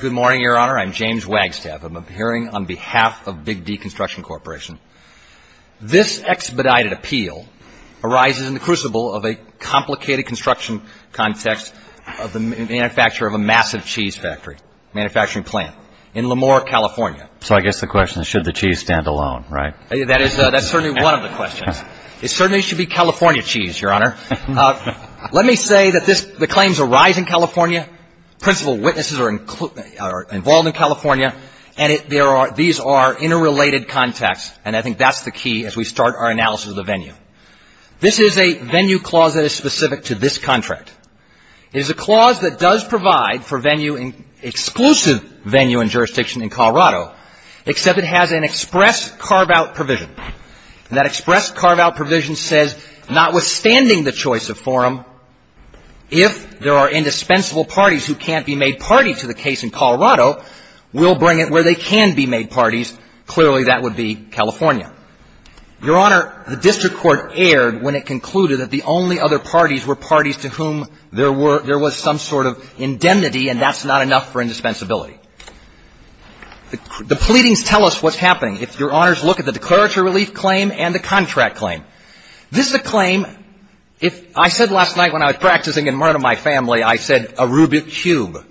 Good morning, Your Honor. I'm James Wagstaff. I'm appearing on behalf of Big-D Construction Corporation. This expedited appeal arises in the crucible of a complicated construction context of the manufacture of a massive cheese factory, manufacturing plant in Lemoore, California. So I guess the question is, should the cheese stand alone, right? That is certainly one of the questions. It certainly should be California cheese, Your Honor. Let me say that the claims arise in California. Principal witnesses are involved in California, and these are interrelated contexts, and I think that's the key as we start our analysis of the venue. This is a venue clause that is specific to this contract. It is a clause that does provide for exclusive venue and jurisdiction in Colorado, except it has an express carve-out provision. And that express carve-out provision says, notwithstanding the choice of forum, if there are indispensable parties who can't be made party to the case in Colorado, we'll bring it where they can be made parties. Clearly, that would be California. Your Honor, the district court erred when it concluded that the only other parties were parties to whom there was some sort of indemnity, and that's not enough for indispensability. The pleadings tell us what's happening. If Your Honors look at the declaratory relief claim and the contract claim. This is a claim, if I said last night when I was practicing and murdered my family, I said, a Rubik's Cube.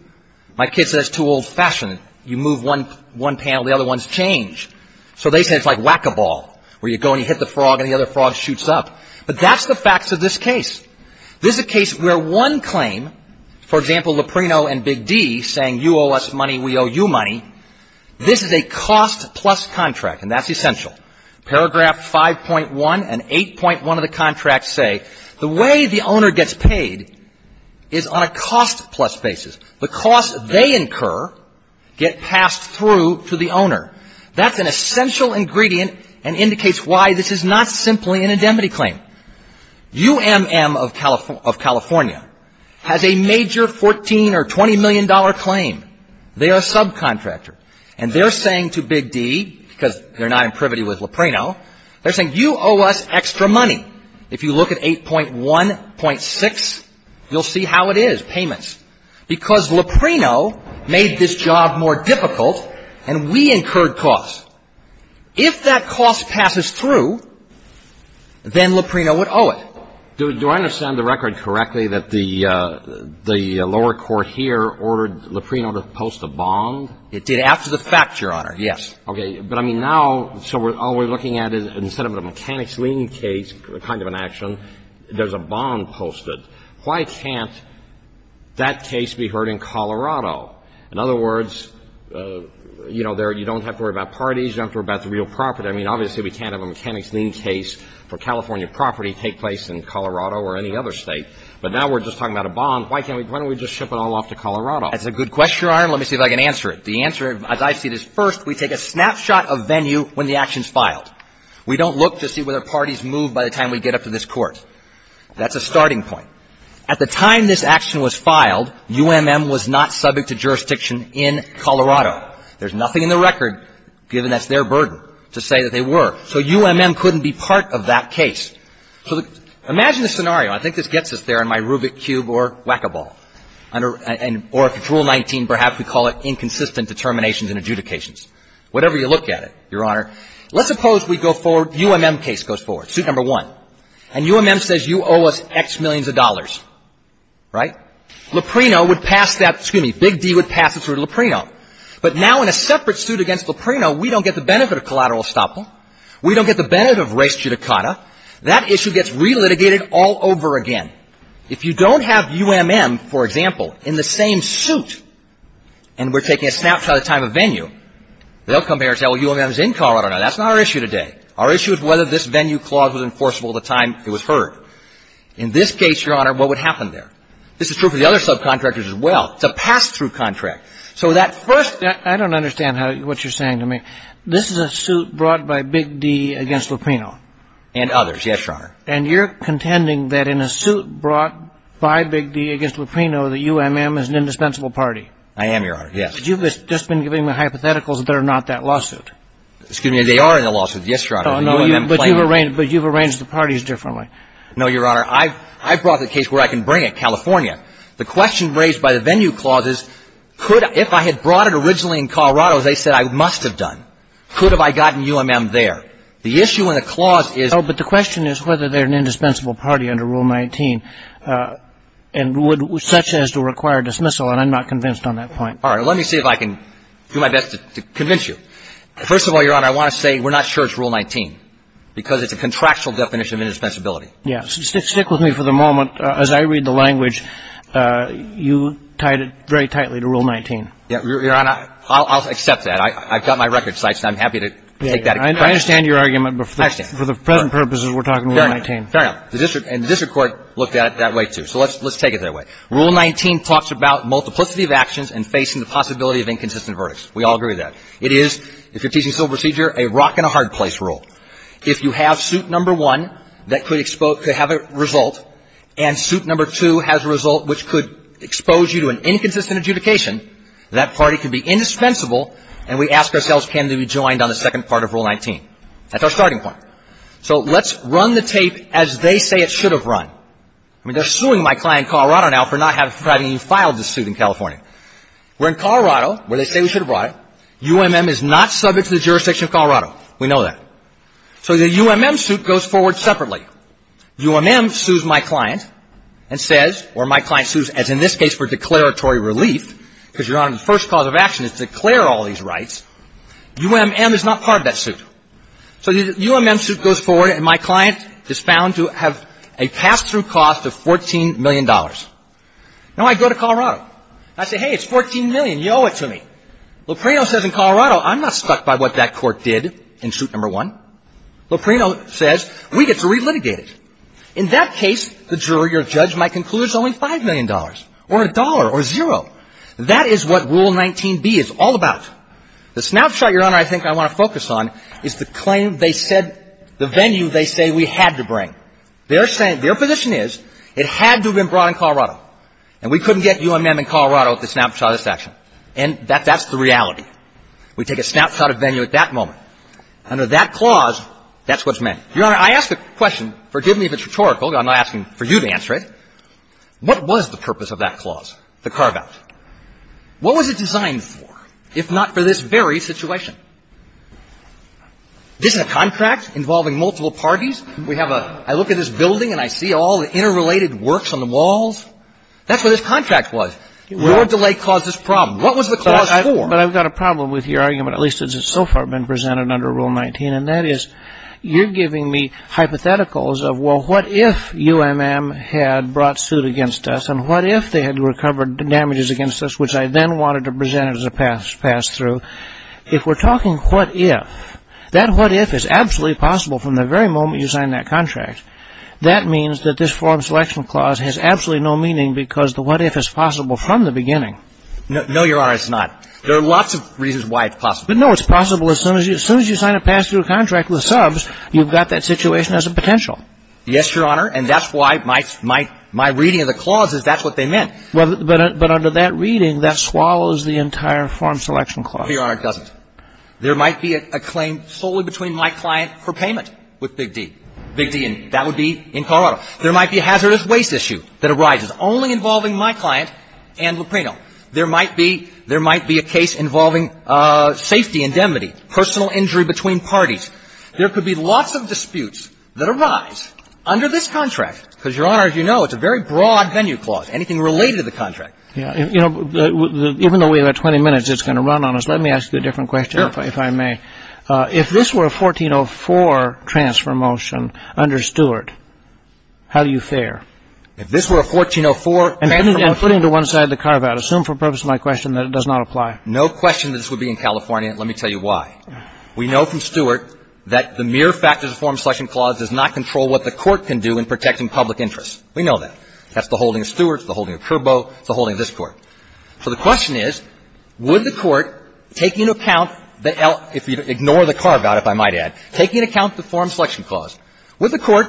My kid says, too old-fashioned. You move one panel, the other ones change. So they say it's like whack-a-ball, where you go and you hit the frog and the other frog shoots up. But that's the facts of this case. This is a case where one claim, for example, Luprino and Big D saying, you owe us money, we owe you money, this is a cost-plus contract, and that's essential. Paragraph 5.1 and 8.1 of the contract say, the way the owner gets paid is on a cost-plus basis. The costs they incur get passed through to the owner. That's an essential ingredient and indicates why this is not simply an indemnity claim. UMM of California has a major $14 or $20 million claim. They are a subcontractor. And they're saying to Big D, because they're not in privity with Luprino, they're saying, you owe us extra money. If you look at 8.1.6, you'll see how it is, payments. Because Luprino made this job more difficult, and we incurred costs. If that cost passes through, then Luprino would owe it. Do I understand the record correctly that the lower court here ordered Luprino to post a bond? It did, after the fact, Your Honor, yes. Okay. But I mean, now, so all we're looking at is, instead of a mechanics lien case kind of an action, there's a bond posted. Why can't that case be heard in Colorado? In other words, you know, you don't have to worry about parties. You don't have to worry about the real property. I mean, obviously, we can't have a mechanics lien case for California property take place in Colorado or any other state. But now we're just talking about a bond. Why can't we – why don't we just ship it all off to Colorado? That's a good question, Your Honor. Let me see if I can answer it. The answer, as I see it, is, first, we take a snapshot of venue when the action's filed. We don't look to see whether parties move by the time we get up to this court. That's a starting point. At the time this action was filed, UMM was not subject to jurisdiction in Colorado. There's nothing in the record, given that's their burden, to say that they were. So UMM couldn't be part of that case. So imagine the scenario. I think this gets us there in my Rubik's Cube or whack-a-ball. Or if it's Rule 19, perhaps we call it inconsistent determinations and adjudications. Whatever you look at it, Your Honor. Let's suppose we go forward – UMM case goes forward, suit number one. And UMM says, you owe us X millions of dollars, right? Loprino would pass that – excuse me, Big D would pass it through Loprino. But now in a separate suit against Loprino, we don't get the benefit of collateral estoppel. We don't get the benefit of res judicata. That issue gets re-litigated all over again. If you don't have UMM, for example, in the same suit, and we're taking a snapshot of time of venue, they'll come here and say, well, UMM's in Colorado. That's not our issue today. Our issue is whether this venue clause was enforceable at the time it was heard. In this case, Your Honor, what would happen there? This is true for the other subcontractors as well. It's a pass-through contract. So that first – I don't understand how – what you're saying to me. This is a suit brought by Big D against Loprino. And others, yes, Your Honor. And you're contending that in a suit brought by Big D against Loprino, that UMM is an indispensable party? I am, Your Honor, yes. But you've just been giving me hypotheticals that are not that lawsuit. Excuse me. They are in the lawsuit, yes, Your Honor. No, but you've arranged the parties differently. No, Your Honor. I've brought the case where I can bring it, California. The question raised by the venue clause is, could – if I had brought it originally in Colorado, as I said, I must have done, could have I gotten UMM there? The issue in the clause is – No, but the question is whether they're an indispensable party under Rule 19 and would – such as to require dismissal. And I'm not convinced on that point. All right. Let me see if I can do my best to convince you. First of all, Your Honor, I want to say we're not sure it's Rule 19 because it's a contractual definition of indispensability. Yes. Stick with me for the moment. As I read the language, you tied it very tightly to Rule 19. Yes, Your Honor. I'll accept that. I've got my record sites and I'm happy to take that. I understand your argument. I understand. But for the present purposes, we're talking Rule 19. Fair enough. Fair enough. And the district court looked at it that way, too. So let's take it that way. Rule 19 talks about multiplicity of actions and facing the possibility of inconsistent verdicts. We all agree with that. It is, if you're teaching civil procedure, a rock-and-a-hard-place rule. If you have suit number one that could have a result and suit number two has a result which could expose you to an inconsistent adjudication, that party could be indispensable and we ask ourselves can they be joined on the second part of Rule 19. That's our starting point. So let's run the tape as they say it should have run. I mean, they're suing my client in Colorado now for not having even filed the suit in California. We're in Colorado where they say we should have brought it. UMM is not subject to the jurisdiction of Colorado. We know that. So the UMM suit goes forward separately. UMM sues my client and says or my client sues, as in this case, for declaratory relief because, Your Honor, the first cause of action is to declare all these rights. UMM is not part of that suit. So the UMM suit goes forward and my client is found to have a pass-through cost of $14 million. Now I go to Colorado. I say, hey, it's $14 million. You owe it to me. Loprino says in Colorado I'm not stuck by what that court did in suit number one. Loprino says we get to relitigate it. In that case, the jury or judge might conclude it's only $5 million or a dollar or zero. That is what Rule 19b is all about. The snapshot, Your Honor, I think I want to focus on is the claim they said, the venue they say we had to bring. Their position is it had to have been brought in Colorado. And we couldn't get UMM in Colorado at the snapshot of this action. And that's the reality. We take a snapshot of venue at that moment. Under that clause, that's what's meant. Your Honor, I ask the question, forgive me if it's rhetorical, but I'm asking for you to answer it. What was the purpose of that clause, the carve-out? What was it designed for, if not for this very situation? This is a contract involving multiple parties. I look at this building and I see all the interrelated works on the walls. That's what this contract was. Your delay caused this problem. What was the clause for? But I've got a problem with your argument, at least as it's so far been presented under Rule 19, and that is you're giving me hypotheticals of, well, what if UMM had brought suit against us, and what if they had recovered damages against us, which I then wanted to present as a pass-through. If we're talking what if, that what if is absolutely possible from the very moment you sign that contract. That means that this form selection clause has absolutely no meaning because the what if is possible from the beginning. No, Your Honor, it's not. There are lots of reasons why it's possible. But no, it's possible as soon as you sign a pass-through contract with subs, you've got that situation as a potential. Yes, Your Honor, and that's why my reading of the clause is that's what they meant. But under that reading, that swallows the entire form selection clause. Well, Your Honor, it doesn't. There might be a claim solely between my client for payment with Big D. Big D, and that would be in Colorado. There might be a hazardous waste issue that arises only involving my client and Lupreno. There might be a case involving safety indemnity, personal injury between parties. There could be lots of disputes that arise under this contract because, Your Honor, as you know, it's a very broad venue clause, anything related to the contract. Even though we have 20 minutes, it's going to run on us. Let me ask you a different question, if I may. Sure. If this were a 1404 transfer motion under Stewart, how do you fare? If this were a 1404 transfer motion? And putting to one side the carve-out. Assume for purpose of my question that it does not apply. No question that this would be in California, and let me tell you why. We know from Stewart that the mere fact of the form selection clause does not control what the Court can do in protecting public interest. We know that. That's the holding of Stewart. It's the holding of Curbo. It's the holding of this Court. So the question is, would the Court take into account the el- if you ignore the carve-out, if I might add, taking into account the form selection clause, would the Court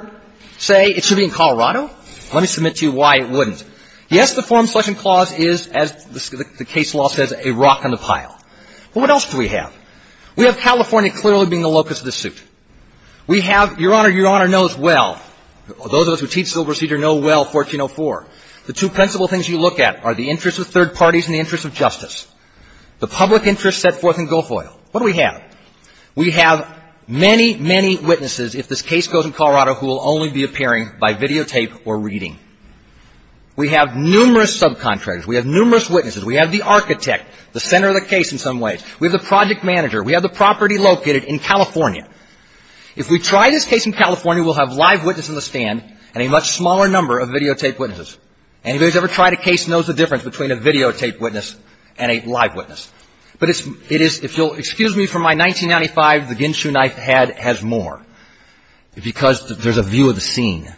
say it should be in Colorado? Let me submit to you why it wouldn't. Yes, the form selection clause is, as the case law says, a rock in the pile. But what else do we have? We have California clearly being the locus of the suit. We have, Your Honor, Your Honor knows well, those of us who teach civil procedure know well 1404. The two principal things you look at are the interest of third parties and the interest of justice. The public interest set forth in Gulf Oil. What do we have? We have many, many witnesses, if this case goes in Colorado, who will only be appearing by videotape or reading. We have numerous subcontractors. We have numerous witnesses. We have the architect, the center of the case in some ways. We have the project manager. We have the property located in California. If we try this case in California, we'll have live witness in the stand and a much smaller number of videotape witnesses. Anybody who's ever tried a case knows the difference between a videotape witness and a live witness. But it is, if you'll excuse me for my 1995, the ginsu knife head has more because there's a view of the scene.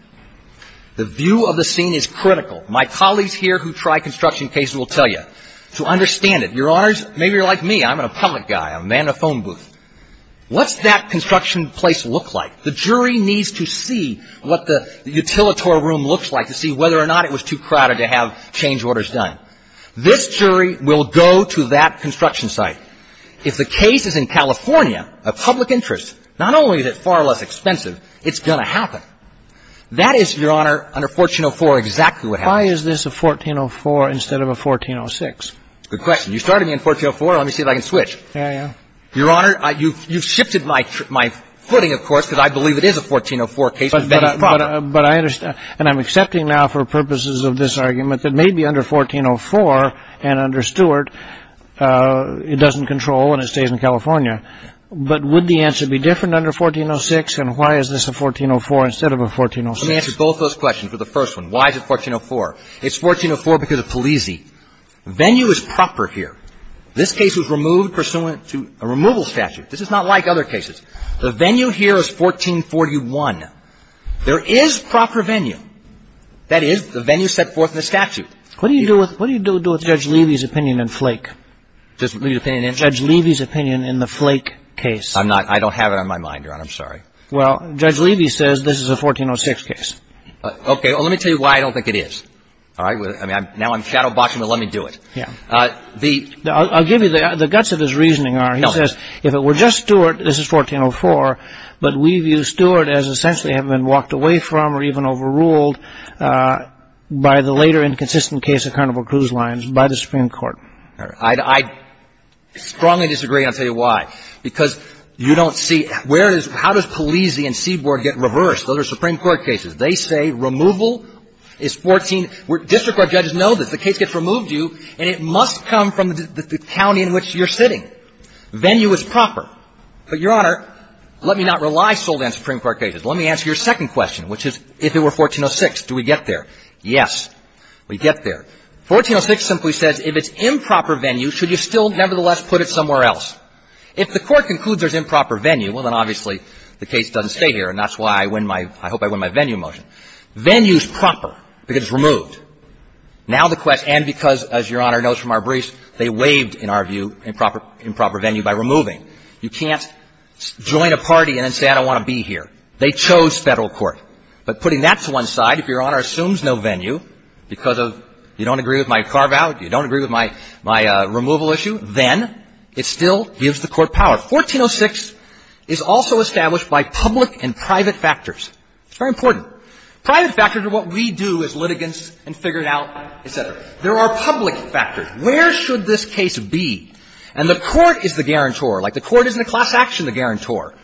The view of the scene is critical. My colleagues here who try construction cases will tell you to understand it. Your Honors, maybe you're like me. I'm a public guy. I'm a man in a phone booth. What's that construction place look like? The jury needs to see what the utilitor room looks like to see whether or not it was too crowded to have change orders done. This jury will go to that construction site. If the case is in California of public interest, not only is it far less expensive, it's going to happen. That is, Your Honor, under 1404, exactly what happens. Why is this a 1404 instead of a 1406? Good question. You started me in 1404. Let me see if I can switch. Yeah, yeah. Your Honor, you've shifted my footing, of course, because I believe it is a 1404 case. But I understand. And I'm accepting now for purposes of this argument that maybe under 1404 and under Stewart, it doesn't control and it stays in California. But would the answer be different under 1406? And why is this a 1404 instead of a 1406? Let me answer both those questions for the first one. Why is it 1404? It's 1404 because of Polizzi. Venue is proper here. This case was removed pursuant to a removal statute. This is not like other cases. The venue here is 1441. There is proper venue. That is, the venue set forth in the statute. What do you do with Judge Levy's opinion in Flake? Judge Levy's opinion in the Flake case? I don't have it on my mind, Your Honor. I'm sorry. Well, Judge Levy says this is a 1406 case. Okay. Well, let me tell you why I don't think it is. All right? Now I'm shadowboxing, but let me do it. I'll give you the guts of his reasoning, R. He says if it were just Stewart, this is 1404, but we view Stewart as essentially having been walked away from or even overruled by the later inconsistent case of Carnival Cruise Lines by the Supreme Court. I strongly disagree. I'll tell you why. Because you don't see where it is. How does Polizzi and Seaborg get reversed? Those are Supreme Court cases. They say removal is 14. District court judges know this. So the case gets removed due, and it must come from the county in which you're sitting. Venue is proper. But, Your Honor, let me not rely solely on Supreme Court cases. Let me answer your second question, which is if it were 1406, do we get there? Yes, we get there. 1406 simply says if it's improper venue, should you still nevertheless put it somewhere else? If the Court concludes there's improper venue, well, then obviously the case doesn't stay here, and that's why I win my – I hope I win my venue motion. Venue is proper because it's removed. Now the question – and because, as Your Honor knows from our briefs, they waived, in our view, improper venue by removing. You can't join a party and then say I don't want to be here. They chose Federal court. But putting that to one side, if Your Honor assumes no venue because of you don't agree with my carve-out, you don't agree with my removal issue, then it still gives the Court power. 1406 is also established by public and private factors. It's very important. Private factors are what we do as litigants and figure it out, et cetera. There are public factors. Where should this case be? And the Court is the guarantor. Like, the Court isn't a class action, the guarantor.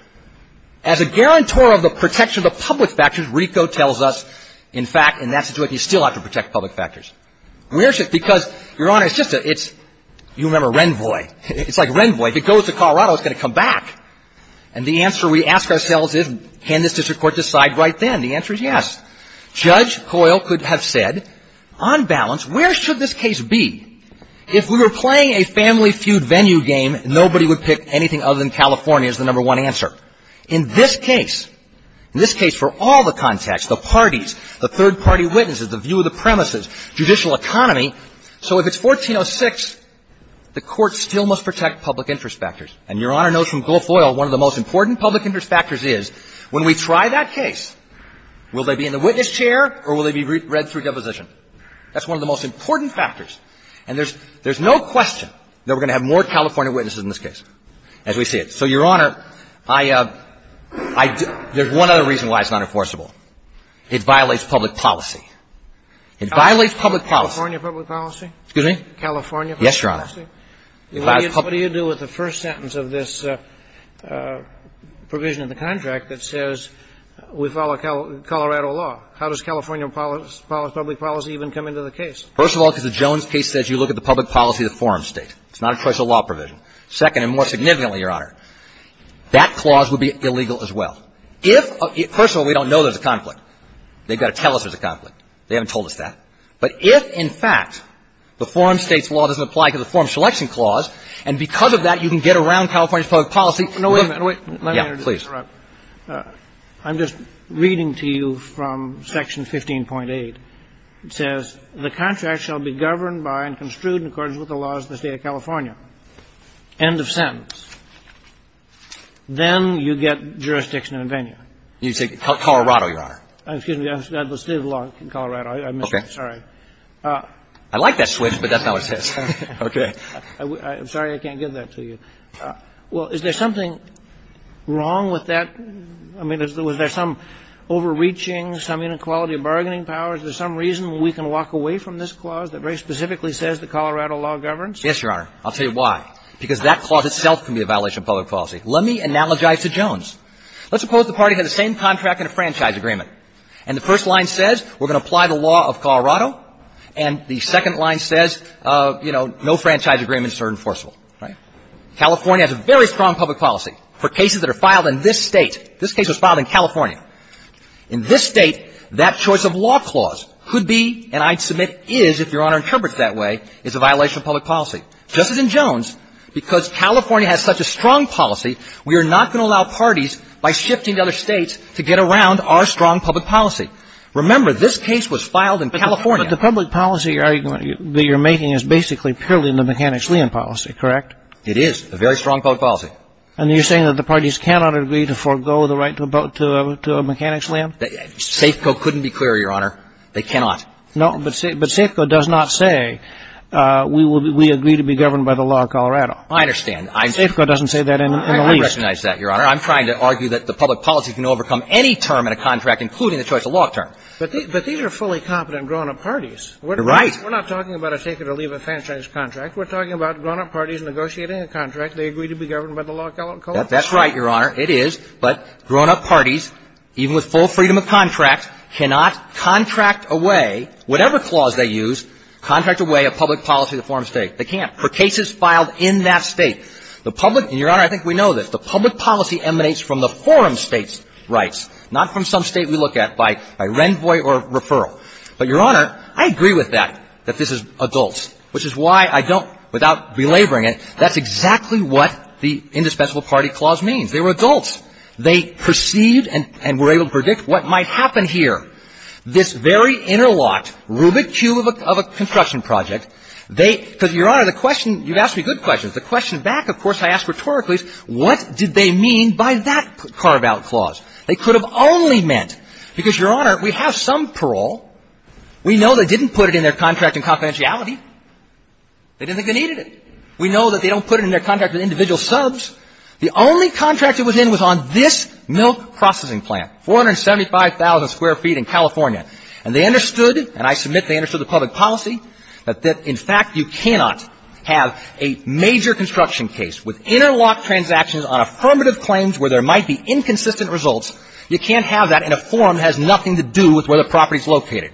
As a guarantor of the protection of the public factors, RICO tells us, in fact, in that situation, you still have to protect public factors. Where is it? Because, Your Honor, it's just a – it's – you remember Renvoy. It's like Renvoy. If it goes to Colorado, it's going to come back. And the answer we ask ourselves is can this district court decide right then? And the answer is yes. Judge Coyle could have said, on balance, where should this case be? If we were playing a family feud venue game, nobody would pick anything other than California as the number one answer. In this case, in this case for all the context, the parties, the third-party witnesses, the view of the premises, judicial economy, so if it's 1406, the Court still must protect public interest factors. And Your Honor knows from Gulf Oil one of the most important public interest factors is, when we try that case, will they be in the witness chair or will they be read through deposition? That's one of the most important factors. And there's no question that we're going to have more California witnesses in this case, as we see it. So, Your Honor, I – there's one other reason why it's not enforceable. It violates public policy. It violates public policy. California public policy? Excuse me? California public policy? Yes, Your Honor. It violates public policy. What do you do with the first sentence of this provision of the contract that says we follow Colorado law? How does California public policy even come into the case? First of all, because the Jones case says you look at the public policy of the forum state. It's not a choice of law provision. Second, and more significantly, Your Honor, that clause would be illegal as well. If – first of all, we don't know there's a conflict. They've got to tell us there's a conflict. They haven't told us that. But if, in fact, the forum state's law doesn't apply to the forum selection clause, and because of that, you can get around California's public policy. Wait a minute. Let me interrupt. I'm just reading to you from Section 15.8. It says, The contract shall be governed by and construed in accordance with the laws of the State of California. End of sentence. Then you get jurisdiction of the venue. You say Colorado, Your Honor. Excuse me. The State of Colorado. I missed that. Sorry. I like that switch, but that's not what it says. Okay. I'm sorry I can't give that to you. Well, is there something wrong with that? I mean, was there some overreaching, some inequality of bargaining powers? Is there some reason we can walk away from this clause that very specifically says the Colorado law governs? Yes, Your Honor. I'll tell you why. Because that clause itself can be a violation of public policy. Let me analogize to Jones. Let's suppose the party has the same contract in a franchise agreement. And the first line says we're going to apply the law of Colorado. And the second line says, you know, no franchise agreements are enforceable. Right? California has a very strong public policy for cases that are filed in this State. This case was filed in California. In this State, that choice of law clause could be, and I'd submit is, if Your Honor interprets it that way, is a violation of public policy. Just as in Jones, because California has such a strong policy, we are not going to shifting to other States to get around our strong public policy. Remember, this case was filed in California. But the public policy that you're making is basically purely in the mechanics lien policy, correct? It is. A very strong public policy. And you're saying that the parties cannot agree to forego the right to mechanics lien? SAFCO couldn't be clearer, Your Honor. They cannot. No, but SAFCO does not say we agree to be governed by the law of Colorado. I understand. SAFCO doesn't say that in the least. I recognize that, Your Honor. I'm trying to argue that the public policy can overcome any term in a contract, including the choice of law term. But these are fully competent grown-up parties. You're right. We're not talking about a taker to leave a franchise contract. We're talking about grown-up parties negotiating a contract. They agree to be governed by the law of Colorado. That's right, Your Honor. It is. But grown-up parties, even with full freedom of contract, cannot contract away, whatever clause they use, contract away a public policy of the form of State. They can't. For cases filed in that State. The public – and, Your Honor, I think we know this – the public policy emanates from the forum State's rights, not from some State we look at by renvoi or referral. But, Your Honor, I agree with that, that this is adults, which is why I don't – without belaboring it, that's exactly what the indispensable party clause means. They were adults. They perceived and were able to predict what might happen here. This very interlocked rubic cube of a construction project, they – because, Your Back, of course, I asked rhetorically, what did they mean by that carve-out clause? They could have only meant – because, Your Honor, we have some parole. We know they didn't put it in their contract in confidentiality. They didn't think they needed it. We know that they don't put it in their contract with individual subs. The only contract it was in was on this milk processing plant, 475,000 square feet in California. And they understood, and I submit they understood the public policy, that in fact you cannot have a major construction case with interlocked transactions on affirmative claims where there might be inconsistent results. You can't have that in a forum that has nothing to do with where the property is located.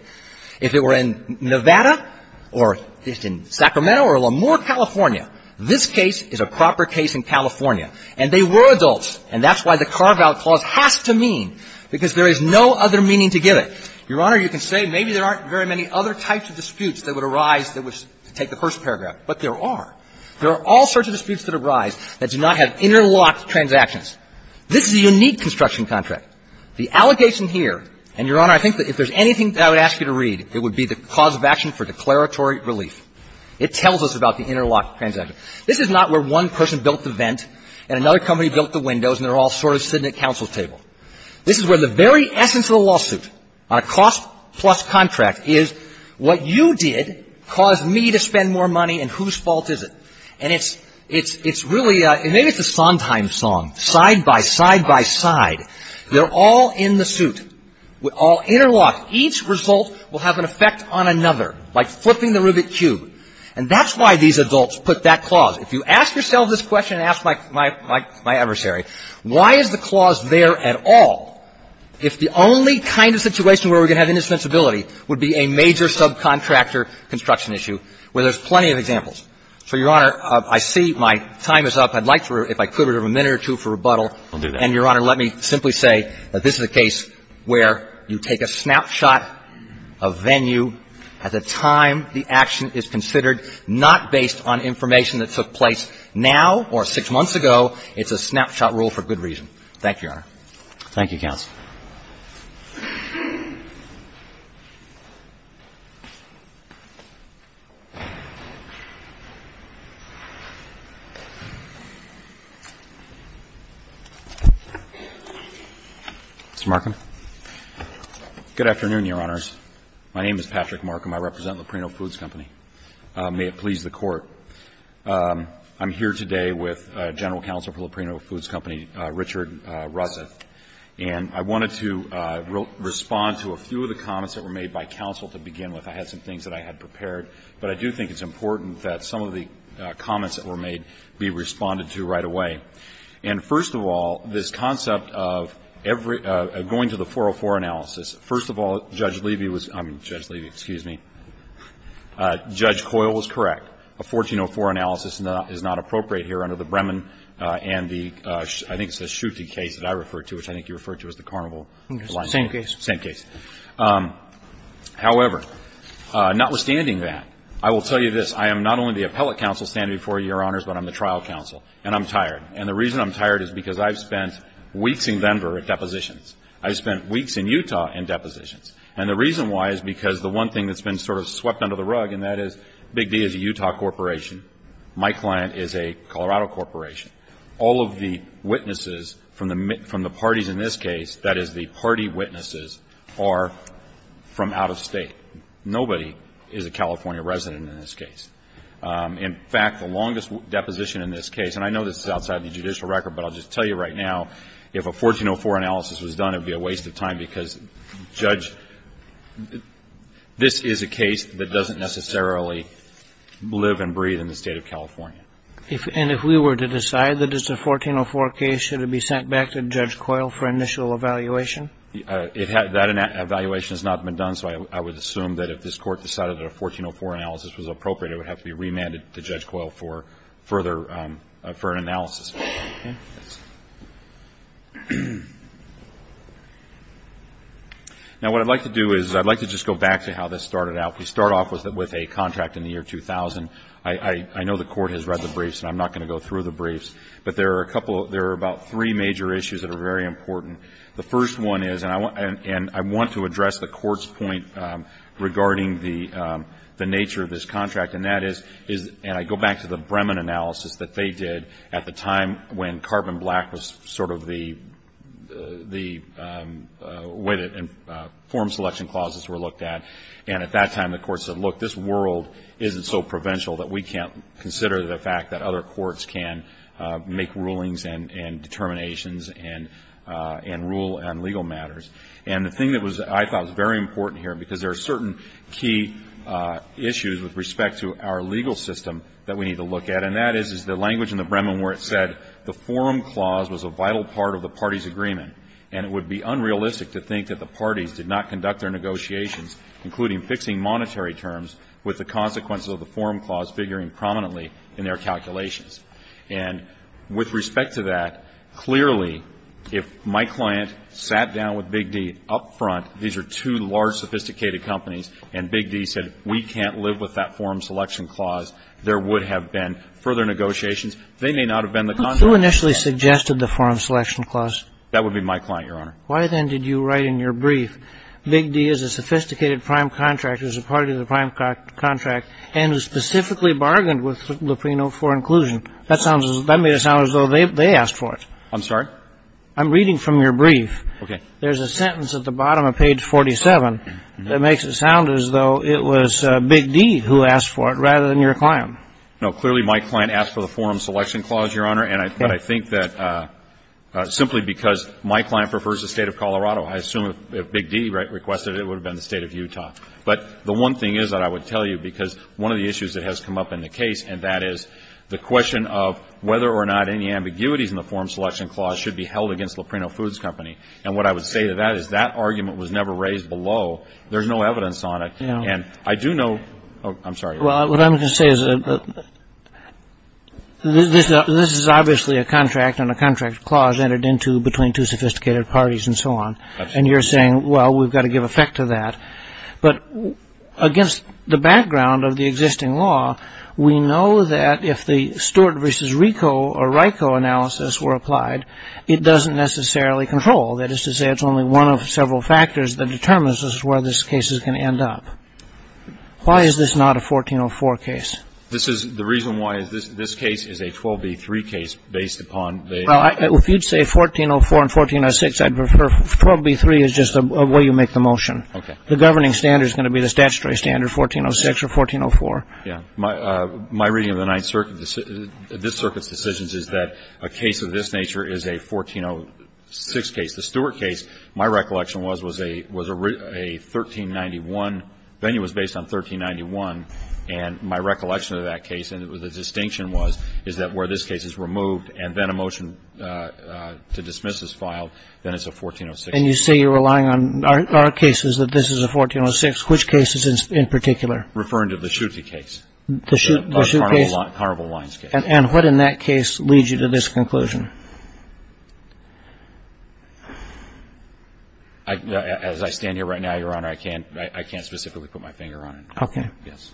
If it were in Nevada or if it's in Sacramento or LaMoure, California, this case is a proper case in California. And they were adults, and that's why the carve-out clause has to mean, because there is no other meaning to give it. Your Honor, you can say maybe there aren't very many other types of disputes that would arise that would take the first paragraph, but there are. There are all sorts of disputes that arise that do not have interlocked transactions. This is a unique construction contract. The allegation here, and, Your Honor, I think that if there's anything that I would ask you to read, it would be the cause of action for declaratory relief. It tells us about the interlocked transaction. This is not where one person built the vent and another company built the windows and they're all sort of sitting at counsel's table. This is where the very essence of the lawsuit on a cost-plus contract is what you did caused me to spend more money and whose fault is it? And it's really, maybe it's a Sondheim song, side-by-side-by-side. They're all in the suit, all interlocked. Each result will have an effect on another, like flipping the Rubik's Cube. And that's why these adults put that clause. If you ask yourself this question and ask my adversary, why is the clause there at all if the only kind of situation where we're going to have indispensability would be a major subcontractor construction issue where there's plenty of examples? So, Your Honor, I see my time is up. I'd like to, if I could, have a minute or two for rebuttal. And, Your Honor, let me simply say that this is a case where you take a snapshot of venue at the time the action is considered, not based on information that took place now or six months ago. It's a snapshot rule for good reason. Thank you, Your Honor. Thank you, counsel. Mr. Markham. Good afternoon, Your Honors. My name is Patrick Markham. I represent Loprino Foods Company. May it please the Court. I'm here today with General Counsel for Loprino Foods Company, Richard Russeth. And I wanted to respond to a few of the comments that were made by counsel to begin with. I had some things that I had prepared. But I do think it's important that some of the comments that were made be responded to right away. And, first of all, this concept of going to the 404 analysis, first of all, Judge Levy was, I mean, Judge Levy, excuse me, Judge Coyle was correct. A 1404 analysis is not appropriate here under the Bremen and the, I think it's the Schutte case that I referred to, which I think you referred to as the Carnival. Same case. Same case. However, notwithstanding that, I will tell you this. I am not only the appellate counsel standing before you, Your Honors, but I'm the trial counsel, and I'm tired. And the reason I'm tired is because I've spent weeks in Denver at depositions. I've spent weeks in Utah in depositions. And the reason why is because the one thing that's been sort of swept under the rug, and that is Big D is a Utah corporation. My client is a Colorado corporation. All of the witnesses from the parties in this case, that is, the party witnesses, are from out of State. Nobody is a California resident in this case. In fact, the longest deposition in this case, and I know this is outside the judicial record, but I'll just tell you right now, if a 1404 analysis was done, it would be a waste of time because, Judge, this is a case that doesn't necessarily live and breathe in the State of California. And if we were to decide that it's a 1404 case, should it be sent back to Judge Coyle for initial evaluation? That evaluation has not been done, so I would assume that if this Court decided that a 1404 analysis was appropriate, it would have to be remanded to Judge Coyle for further analysis. Okay. Now, what I'd like to do is I'd like to just go back to how this started out. We start off with a contract in the year 2000. I know the Court has read the briefs, and I'm not going to go through the briefs, but there are a couple of, there are about three major issues that are very important. The first one is, and I want to address the Court's point regarding the nature of this contract, and that is, and I go back to the Bremen analysis that they did at the time when carbon black was sort of the way that form selection clauses were looked at. And at that time, the Court said, look, this world isn't so provincial that we can't consider the fact that other courts can make rulings and determinations and rule on legal matters. And the thing that I thought was very important here, because there are certain key issues with respect to our legal system that we need to look at, and that is, is the language in the Bremen where it said the forum clause was a vital part of the party's agreement, and it would be unrealistic to think that the parties did not conduct their negotiations, including fixing monetary terms, with the consequences of the forum clause figuring prominently in their calculations. And with respect to that, clearly, if my client sat down with Big D up front, these are two large, sophisticated companies, and Big D said we can't live with that forum selection clause, there would have been further negotiations. They may not have been the contrary. Kagan. Big D is a sophisticated prime contractor, is a party to the prime contract, and specifically bargained with Luprino for inclusion. That sounds as though they asked for it. I'm sorry? I'm reading from your brief. Okay. There's a sentence at the bottom of page 47 that makes it sound as though it was Big D who asked for it rather than your client. No. Clearly, my client asked for the forum selection clause, Your Honor, and I think that simply because my client prefers the State of Colorado. I assume if Big D requested it, it would have been the State of Utah. But the one thing is that I would tell you, because one of the issues that has come up in the case, and that is the question of whether or not any ambiguities in the forum selection clause should be held against Luprino Foods Company. And what I would say to that is that argument was never raised below. There's no evidence on it. And I do know – oh, I'm sorry. Well, what I'm going to say is this is obviously a contract, and a contract clause is presented into between two sophisticated parties and so on. And you're saying, well, we've got to give effect to that. But against the background of the existing law, we know that if the Stewart v. Rico or RICO analysis were applied, it doesn't necessarily control. That is to say, it's only one of several factors that determines where this case is going to end up. Why is this not a 1404 case? This is – the reason why is this case is a 12B3 case based upon the – Well, if you'd say 1404 and 1406, I'd prefer – 12B3 is just the way you make the motion. Okay. The governing standard is going to be the statutory standard, 1406 or 1404. Yeah. My reading of the Ninth Circuit – this Circuit's decisions is that a case of this nature is a 1406 case. The Stewart case, my recollection was, was a 1391 – venue was based on 1391. And my recollection of that case, and the distinction was, is that where this case is removed and then a motion to dismiss is filed, then it's a 1406 case. And you say you're relying on our cases that this is a 1406. Which cases in particular? Referring to the Schutte case. The Schutte case? The Honorable Lyons case. And what in that case leads you to this conclusion? As I stand here right now, Your Honor, I can't specifically put my finger on it. Okay. Yes.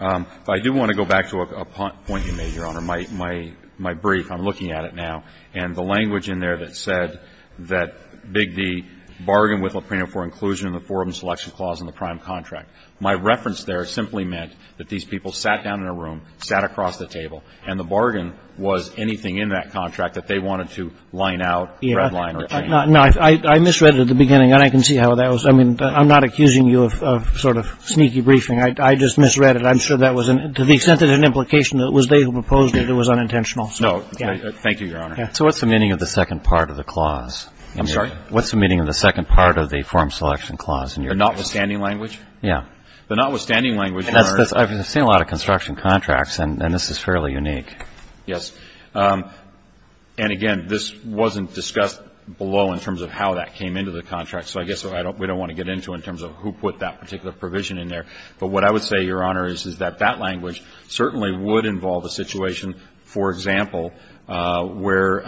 I do want to go back to a point you made, Your Honor, my brief. I'm looking at it now. And the language in there that said that Big D bargained with Lapreno for inclusion in the forum selection clause in the prime contract. My reference there simply meant that these people sat down in a room, sat across the table, and the bargain was anything in that contract that they wanted to line out, redline or change. No. I misread it at the beginning, and I can see how that was. I mean, I'm not accusing you of sort of sneaky briefing. I just misread it. I'm sure that was to the extent that it had an implication that it was they who proposed it, it was unintentional. Thank you, Your Honor. So what's the meaning of the second part of the clause? I'm sorry? What's the meaning of the second part of the forum selection clause? The notwithstanding language? Yeah. The notwithstanding language, Your Honor. I've seen a lot of construction contracts, and this is fairly unique. Yes. And again, this wasn't discussed below in terms of how that came into the contract, so I guess we don't want to get into in terms of who put that particular provision in there. But what I would say, Your Honor, is that that language certainly would involve a situation, for example, where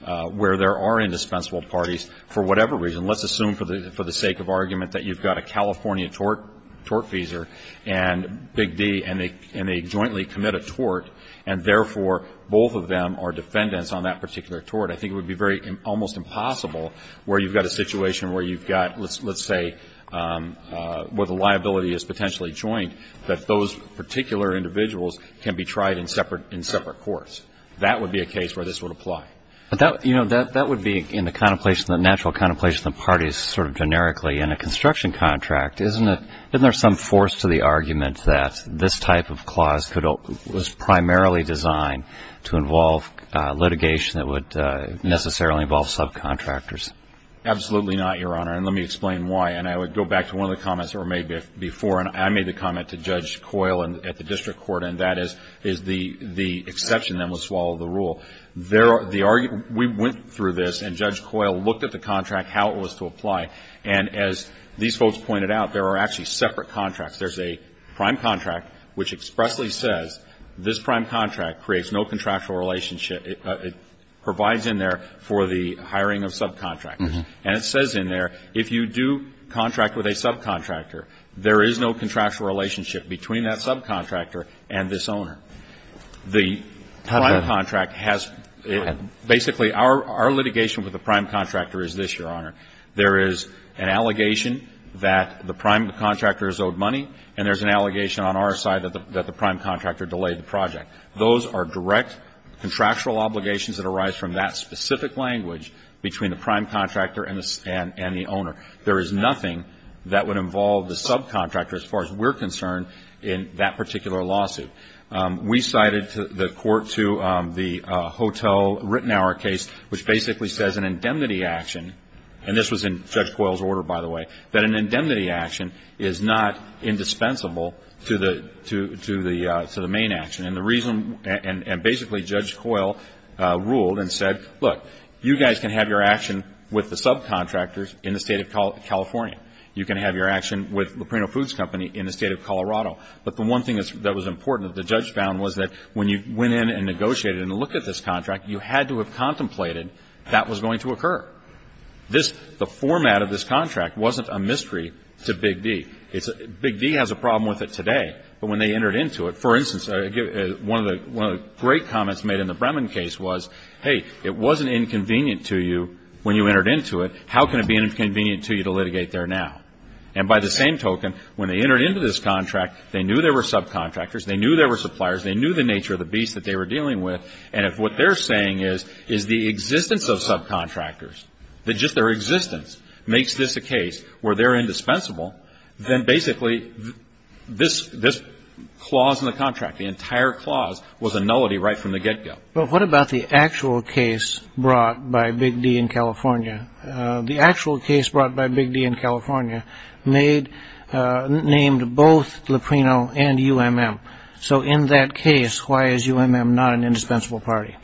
there are indispensable parties for whatever reason. Let's assume for the sake of argument that you've got a California tort feeser and Big D, and they jointly commit a tort, and therefore, both of them are defendants on that particular tort. I think it would be very almost impossible where you've got a situation where you've got, let's say, where the liability is potentially joint, that those particular individuals can be tried in separate courts. That would be a case where this would apply. But that would be in the contemplation, the natural contemplation of the parties sort of generically. In a construction contract, isn't there some force to the argument that this type of clause was primarily designed to involve litigation that would necessarily involve subcontractors? Absolutely not, Your Honor. And let me explain why. And I would go back to one of the comments that were made before, and I made the comment to Judge Coyle at the district court, and that is the exception that would swallow the rule. We went through this, and Judge Coyle looked at the contract, how it was to apply. And as these folks pointed out, there are actually separate contracts. There's a prime contract which expressly says this prime contract creates no contractual relationship. It provides in there for the hiring of subcontractors. And it says in there if you do contract with a subcontractor, there is no contractual relationship between that subcontractor and this owner. The prime contract has basically our litigation with the prime contractor is this, Your Honor. There is an allegation that the prime contractor has owed money, and there's an allegation on our side that the prime contractor delayed the project. Those are direct contractual obligations that arise from that specific language between the prime contractor and the owner. There is nothing that would involve the subcontractor as far as we're concerned in that particular lawsuit. We cited the court to the hotel Rittenhour case, which basically says an indemnity action, and this was in Judge Coyle's order, by the way, that an indemnity action is not indispensable to the main action. And basically Judge Coyle ruled and said, look, you guys can have your action with the subcontractors in the State of California. You can have your action with the Prino Foods Company in the State of Colorado. But the one thing that was important that the judge found was that when you went in and negotiated and looked at this contract, you had to have contemplated that was going to occur. The format of this contract wasn't a mystery to Big D. Big D has a problem with it today, but when they entered into it, for instance, one of the great comments made in the Bremen case was, hey, it wasn't inconvenient to you when you entered into it. How can it be inconvenient to you to litigate there now? And by the same token, when they entered into this contract, they knew there were subcontractors, they knew there were suppliers, they knew the nature of the beast that they were dealing with, and if what they're saying is the existence of subcontractors, that just their existence makes this a case where they're was a nullity right from the get-go. But what about the actual case brought by Big D. in California? The actual case brought by Big D. in California named both Luprino and UMM. So in that case, why is UMM not an indispensable party?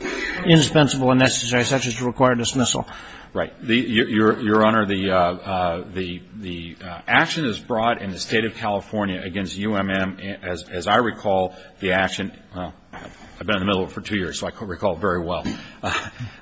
Indispensable and necessary, such as to require dismissal. Right. Your Honor, the action is brought in the State of California against UMM. As I recall, the action, I've been in the middle of it for two years, so I can't recall it very well.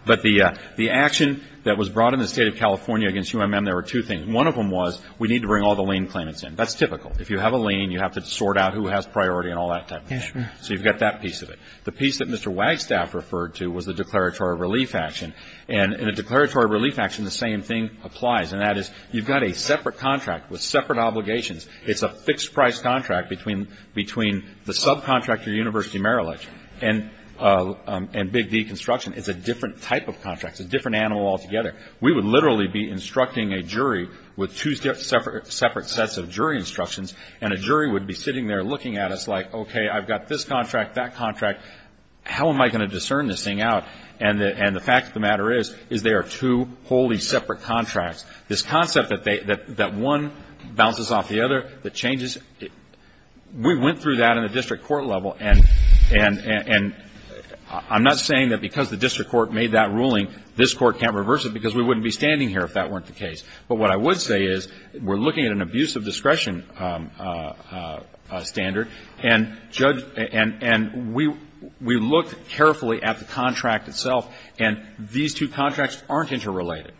But the action that was brought in the State of California against UMM, there were two things. One of them was we need to bring all the lien claimants in. That's typical. If you have a lien, you have to sort out who has priority and all that type of thing. Yes, Your Honor. So you've got that piece of it. The piece that Mr. Wagstaff referred to was the declaratory relief action. And in a declaratory relief action, the same thing applies, and that is you've got a separate contract with separate obligations. It's a fixed-price contract between the subcontractor, University of Merrill Lynch, and Big D Construction. It's a different type of contract. It's a different animal altogether. We would literally be instructing a jury with two separate sets of jury instructions, and a jury would be sitting there looking at us like, okay, I've got this contract, that contract. How am I going to discern this thing out? And the fact of the matter is, is there are two wholly separate contracts. This concept that one bounces off the other, that changes, we went through that in the district court level. And I'm not saying that because the district court made that ruling, this court can't reverse it because we wouldn't be standing here if that weren't the case. But what I would say is we're looking at an abuse of discretion standard, and we looked carefully at the contract itself, and these two contracts aren't interrelated.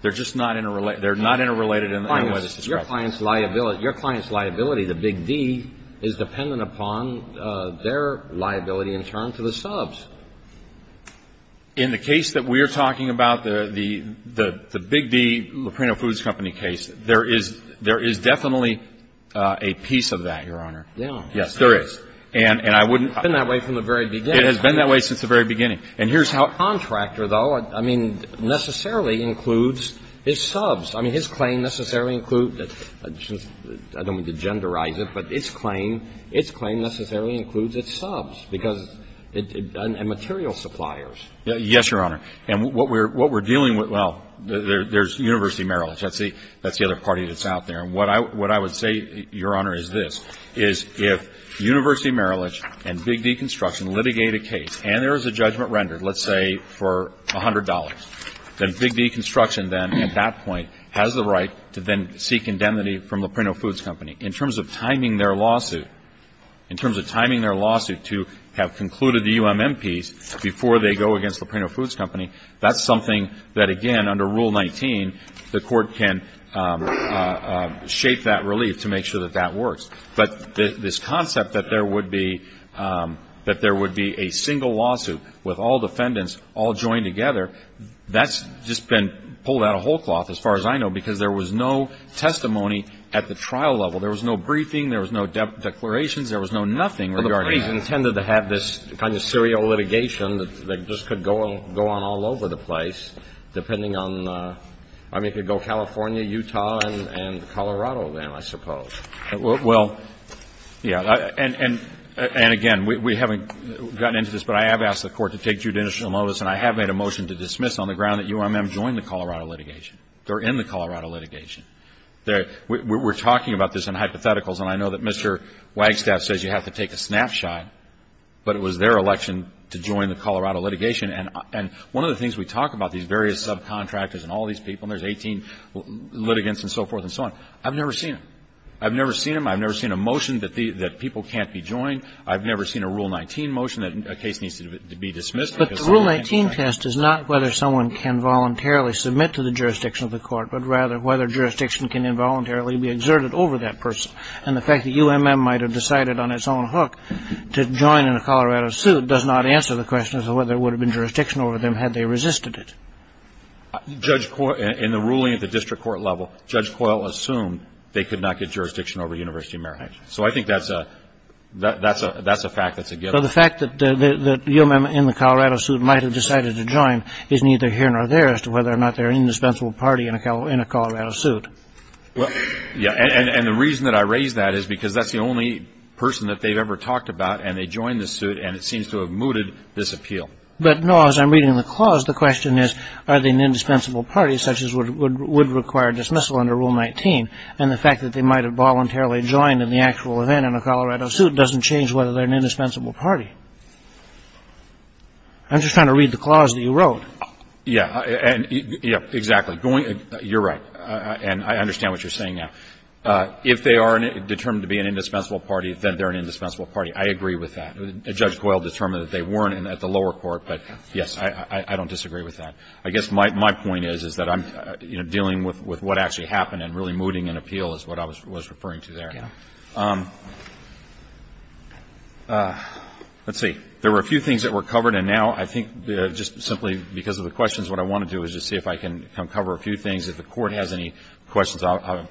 They're just not interrelated. They're not interrelated in any way to discretion. Your client's liability, the Big D, is dependent upon their liability in turn to the subs. In the case that we are talking about, the Big D, Loprino Foods Company case, there is definitely a piece of that, Your Honor. Yeah. Yes, there is. And I wouldn't ---- It's been that way from the very beginning. It has been that way since the very beginning. And here's how a contractor, though, I mean, necessarily includes his subs. I mean, his claim necessarily includes the ---- I don't mean to genderize it, but its claim, its claim necessarily includes its subs because it's a material supplier. Yes, Your Honor. And what we're dealing with, well, there's University of Maryland. That's the other party that's out there. And what I would say, Your Honor, is this, is if University of Maryland and Big D Construction litigate a case and there is a judgment rendered, let's say, for $100, then Big D Construction then, at that point, has the right to then seek indemnity from Loprino Foods Company. In terms of timing their lawsuit, in terms of timing their lawsuit to have concluded the U.M. MPs before they go against Loprino Foods Company, that's something that, again, under Rule 19, the court can shape that relief to make sure that that works. But this concept that there would be a single lawsuit with all defendants all joined together, that's just been pulled out of whole cloth, as far as I know, because there was no testimony at the trial level. There was no briefing. There was no declarations. There was no nothing regarding it. Well, the parties intended to have this kind of serial litigation that just could go on all over the place depending on, I mean, it could go California, Utah, and Colorado then, I suppose. Well, yeah. And, again, we haven't gotten into this, but I have asked the Court to take judicial notice, and I have made a motion to dismiss on the ground that UMM joined the Colorado litigation. They're in the Colorado litigation. We're talking about this in hypotheticals, and I know that Mr. Wagstaff says you have to take a snapshot, but it was their election to join the Colorado litigation. And one of the things we talk about, these various subcontractors and all these people, and there's 18 litigants and so forth and so on. I've never seen it. I've never seen them. I've never seen a motion that people can't be joined. I've never seen a Rule 19 motion that a case needs to be dismissed. But the Rule 19 test is not whether someone can voluntarily submit to the jurisdiction of the Court, but rather whether jurisdiction can involuntarily be exerted over that person. And the fact that UMM might have decided on its own hook to join in a Colorado suit does not answer the question as to whether there would have been jurisdiction over them had they resisted it. In the ruling at the district court level, Judge Coyle assumed they could not get jurisdiction over University of Maryland. So I think that's a fact that's a given. So the fact that UMM in the Colorado suit might have decided to join is neither here nor there as to whether or not they're an indispensable party in a Colorado suit. Yeah, and the reason that I raise that is because that's the only person that they've ever talked about, and they joined the suit, and it seems to have mooted this appeal. But, no, as I'm reading the clause, the question is, are they an indispensable party, such as would require dismissal under Rule 19? And the fact that they might have voluntarily joined in the actual event in a Colorado suit doesn't change whether they're an indispensable party. I'm just trying to read the clause that you wrote. Yeah. Yeah, exactly. You're right, and I understand what you're saying now. If they are determined to be an indispensable party, then they're an indispensable party. I agree with that. Judge Coyle determined that they weren't at the lower court, but, yes, I don't disagree with that. I guess my point is, is that I'm, you know, dealing with what actually happened and really mooting an appeal is what I was referring to there. Yeah. Let's see. There were a few things that were covered, and now I think just simply because of the questions, what I want to do is just see if I can come cover a few things. If the Court has any questions, obviously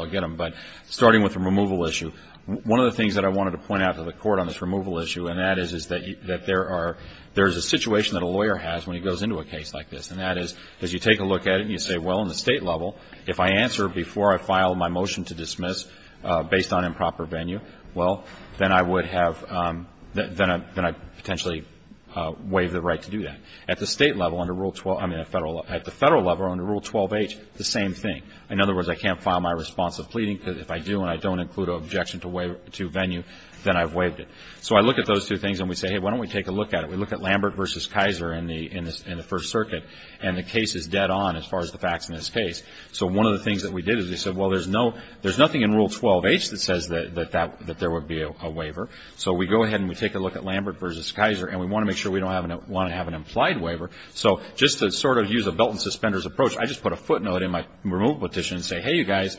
I'll get them. But starting with the removal issue, one of the things that I wanted to point out to the Court on this removal issue, and that is that there is a situation that a lawyer has when he goes into a case like this, and that is you take a look at it and you say, well, on the State level, if I answer before I file my motion to dismiss based on improper venue, well, then I would have, then I'd potentially waive the right to do that. At the State level, under Rule 12, I mean at the Federal level, under Rule 12H, the same thing. In other words, I can't file my response of pleading, because if I do and I don't include an objection to venue, then I've waived it. So I look at those two things and we say, hey, why don't we take a look at it. We look at Lambert v. Kaiser in the First Circuit, and the case is dead on as far as the facts in this case. So one of the things that we did is we said, well, there's nothing in Rule 12H that says that there would be a waiver. So we go ahead and we take a look at Lambert v. Kaiser, and we want to make sure we don't want to have an implied waiver. So just to sort of use a belt and suspenders approach, I just put a footnote in my removal petition and say, hey, you guys,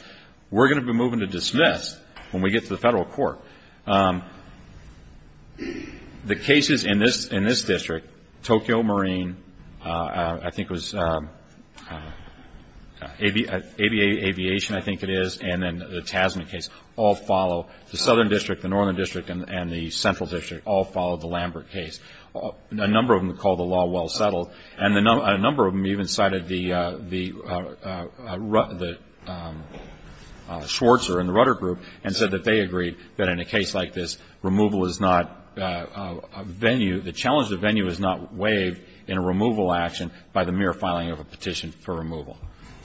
we're going to be moving to dismiss when we get to the Federal Court. The cases in this district, Tokyo Marine, I think it was ABA Aviation, I think it is, and then the Tasman case all follow. The Southern District, the Northern District, and the Central District all follow the Lambert case. A number of them call the law well settled. And a number of them even cited the Schwartzer and the Rudder Group and said that they agreed that in a case like this, removal is not a venue, the challenge of the venue is not waived in a removal action by the mere filing of a petition for removal.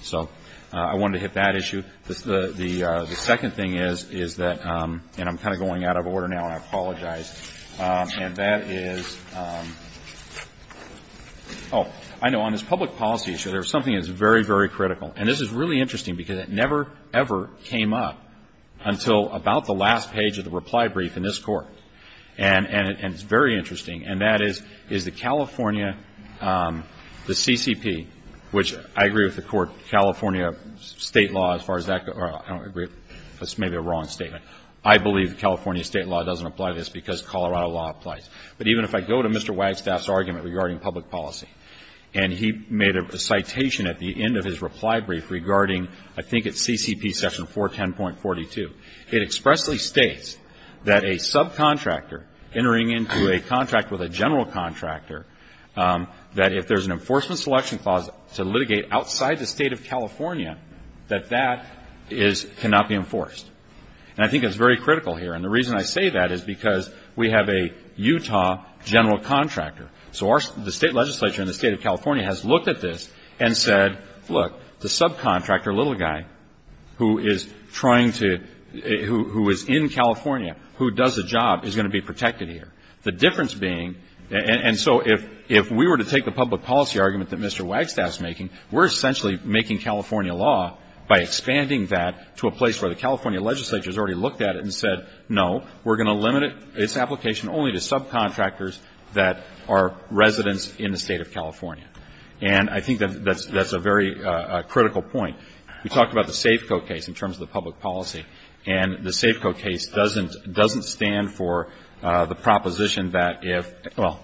So I wanted to hit that issue. The second thing is that, and I'm kind of going out of order now and I apologize, and that is, oh, I know, on this public policy issue, there's something that's very, very critical. And this is really interesting because it never, ever came up until about the last page of the reply brief in this Court. And it's very interesting. And that is, is the California, the CCP, which I agree with the Court, California state law as far as that goes, or I don't agree, that's maybe a wrong statement. I believe California state law doesn't apply to this because Colorado law applies. But even if I go to Mr. Wagstaff's argument regarding public policy, and he made a citation at the end of his reply brief regarding, I think it's CCP section 410.42, it expressly states that a subcontractor entering into a contract with a general contractor, that if there's an enforcement selection clause to litigate outside the State of California, that that is, cannot be enforced. And I think it's very critical here. And the reason I say that is because we have a Utah general contractor. So the state legislature in the State of California has looked at this and said, look, the subcontractor little guy who is trying to, who is in California, who does a job, is going to be protected here. The difference being, and so if we were to take the public policy argument that Mr. Wagstaff's making, we're essentially making California law by expanding that to a place where the California legislature has already looked at it and said, no, we're going to limit its application only to subcontractors that are residents in the State of California. And I think that's a very critical point. We talked about the SAFCO case in terms of the public policy. And the SAFCO case doesn't stand for the proposition that if, well,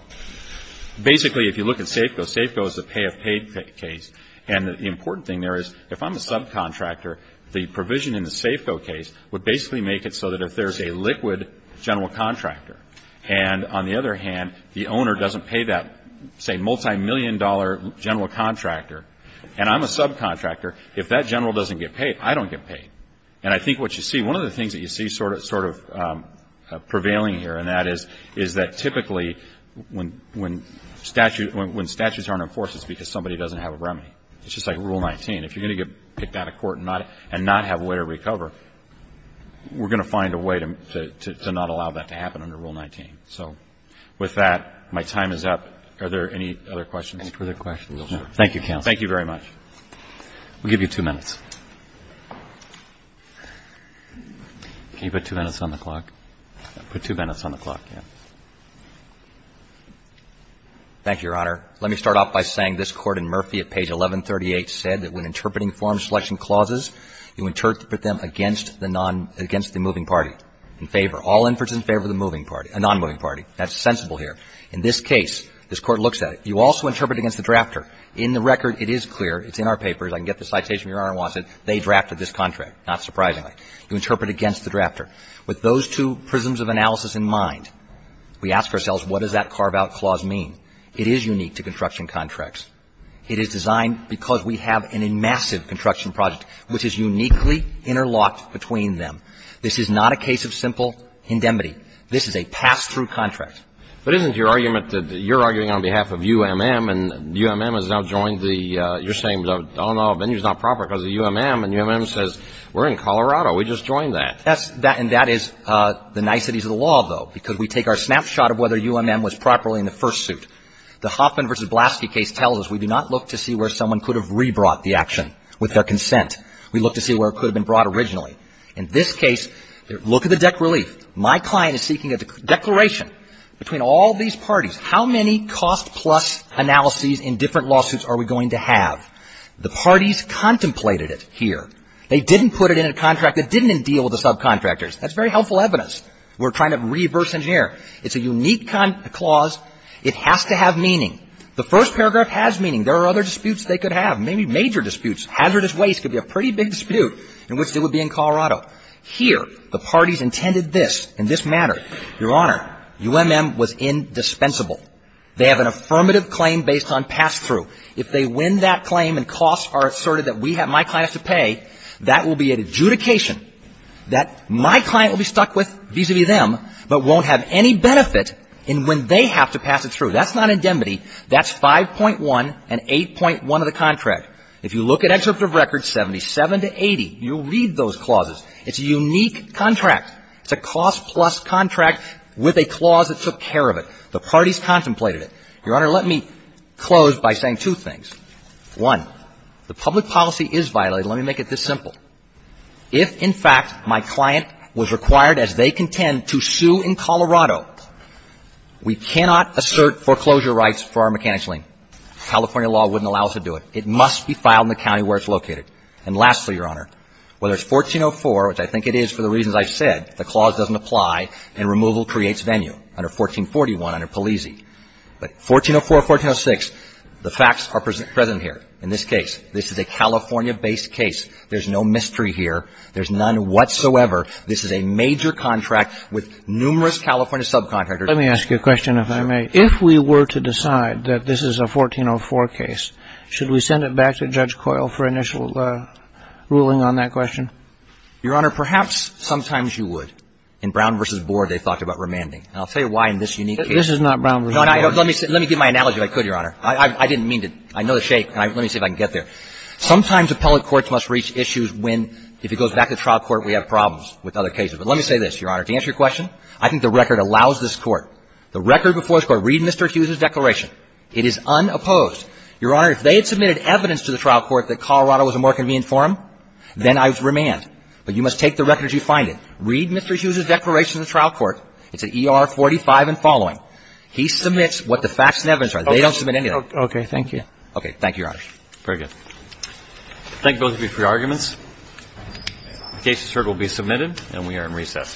basically if you look at SAFCO, SAFCO is the pay of paid case. And the important thing there is if I'm a subcontractor, the provision in the SAFCO case would basically make it so that if there's a liquid general contractor, and on the other hand, the owner doesn't pay that, say, multimillion-dollar general contractor, and I'm a subcontractor, if that general doesn't get paid, I don't get paid. And I think what you see, one of the things that you see sort of prevailing here, and that is that typically when statutes aren't enforced, it's because somebody doesn't have a remedy. It's just like Rule 19. If you're going to get picked out of court and not have way to recover, we're going to find a way to not allow that to happen under Rule 19. So with that, my time is up. Are there any other questions? Any further questions? Thank you, counsel. Thank you very much. We'll give you two minutes. Can you put two minutes on the clock? Put two minutes on the clock, yes. Thank you, Your Honor. Let me start off by saying this Court in Murphy at page 1138 said that when interpreting foreign selection clauses, you interpret them against the non --" against the moving party. In favor. All inferences in favor of the moving party --" a non-moving party. That's sensible here. In this case, this Court looks at it. You also interpret against the drafter. In the record, it is clear, it's in our papers, I can get the citation if Your Honor wants it, they drafted this contract, not surprisingly. You interpret against the drafter. With those two prisms of analysis in mind, we ask ourselves, what does that carve-out clause mean? It is unique to construction contracts. It is designed because we have an enmassive construction project, which is uniquely interlocked between them. This is not a case of simple indemnity. This is a pass-through contract. But isn't your argument that you're arguing on behalf of UMM, and UMM has now joined the you're saying, oh, no, venue's not proper because of UMM, and UMM says, we're in Colorado. We just joined that. And that is the niceties of the law, though, because we take our snapshot of whether UMM was properly in the first suit. The Hoffman v. Blaski case tells us we do not look to see where someone could have rebrought the action with their consent. We look to see where it could have been brought originally. In this case, look at the dec relief. My client is seeking a declaration between all these parties. How many cost-plus analyses in different lawsuits are we going to have? The parties contemplated it here. They didn't put it in a contract that didn't deal with the subcontractors. That's very helpful evidence. We're trying to reverse engineer. It's a unique clause. It has to have meaning. The first paragraph has meaning. There are other disputes they could have, maybe major disputes. Hazardous waste could be a pretty big dispute in which it would be in Colorado. Here, the parties intended this in this manner. Your Honor, UMM was indispensable. They have an affirmative claim based on pass-through. If they win that claim and costs are asserted that we have, my client has to pay, that will be an adjudication that my client will be stuck with vis-a-vis them, but won't have any benefit in when they have to pass it through. That's not indemnity. That's 5.1 and 8.1 of the contract. If you look at excerpt of record 77 to 80, you'll read those clauses. It's a unique contract. It's a cost-plus contract with a clause that took care of it. The parties contemplated it. Your Honor, let me close by saying two things. One, the public policy is violated. Let me make it this simple. If, in fact, my client was required, as they contend, to sue in Colorado, we cannot assert foreclosure rights for our mechanics lien. California law wouldn't allow us to do it. It must be filed in the county where it's located. And lastly, Your Honor, whether it's 1404, which I think it is for the reasons I've said, the clause doesn't apply, and removal creates venue under 1441 under Palisi. But 1404, 1406, the facts are present here in this case. This is a California-based case. There's no mystery here. There's none whatsoever. This is a major contract with numerous California subcontractors. Let me ask you a question, if I may. If we were to decide that this is a 1404 case, should we send it back to Judge Coyle for initial ruling on that question? Your Honor, perhaps sometimes you would. In Brown v. Board, they talked about remanding. And I'll tell you why in this unique case. This is not Brown v. Board. Let me give my analogy if I could, Your Honor. I didn't mean to. I know the shape. Let me see if I can get there. Sometimes appellate courts must reach issues when, if it goes back to trial court, we have problems with other cases. But let me say this, Your Honor. To answer your question, I think the record allows this Court, the record before this Court, read Mr. Hughes's declaration. It is unopposed. Your Honor, if they had submitted evidence to the trial court that Colorado was a more convenient forum, then I would remand. But you must take the record as you find it. Read Mr. Hughes's declaration in the trial court. It's at ER 45 and following. He submits what the facts and evidence are. They don't submit anything. Okay. Thank you. Okay. Thank you, Your Honor. Very good. Thank both of you for your arguments. The case, Your Honor, will be submitted, and we are in recess.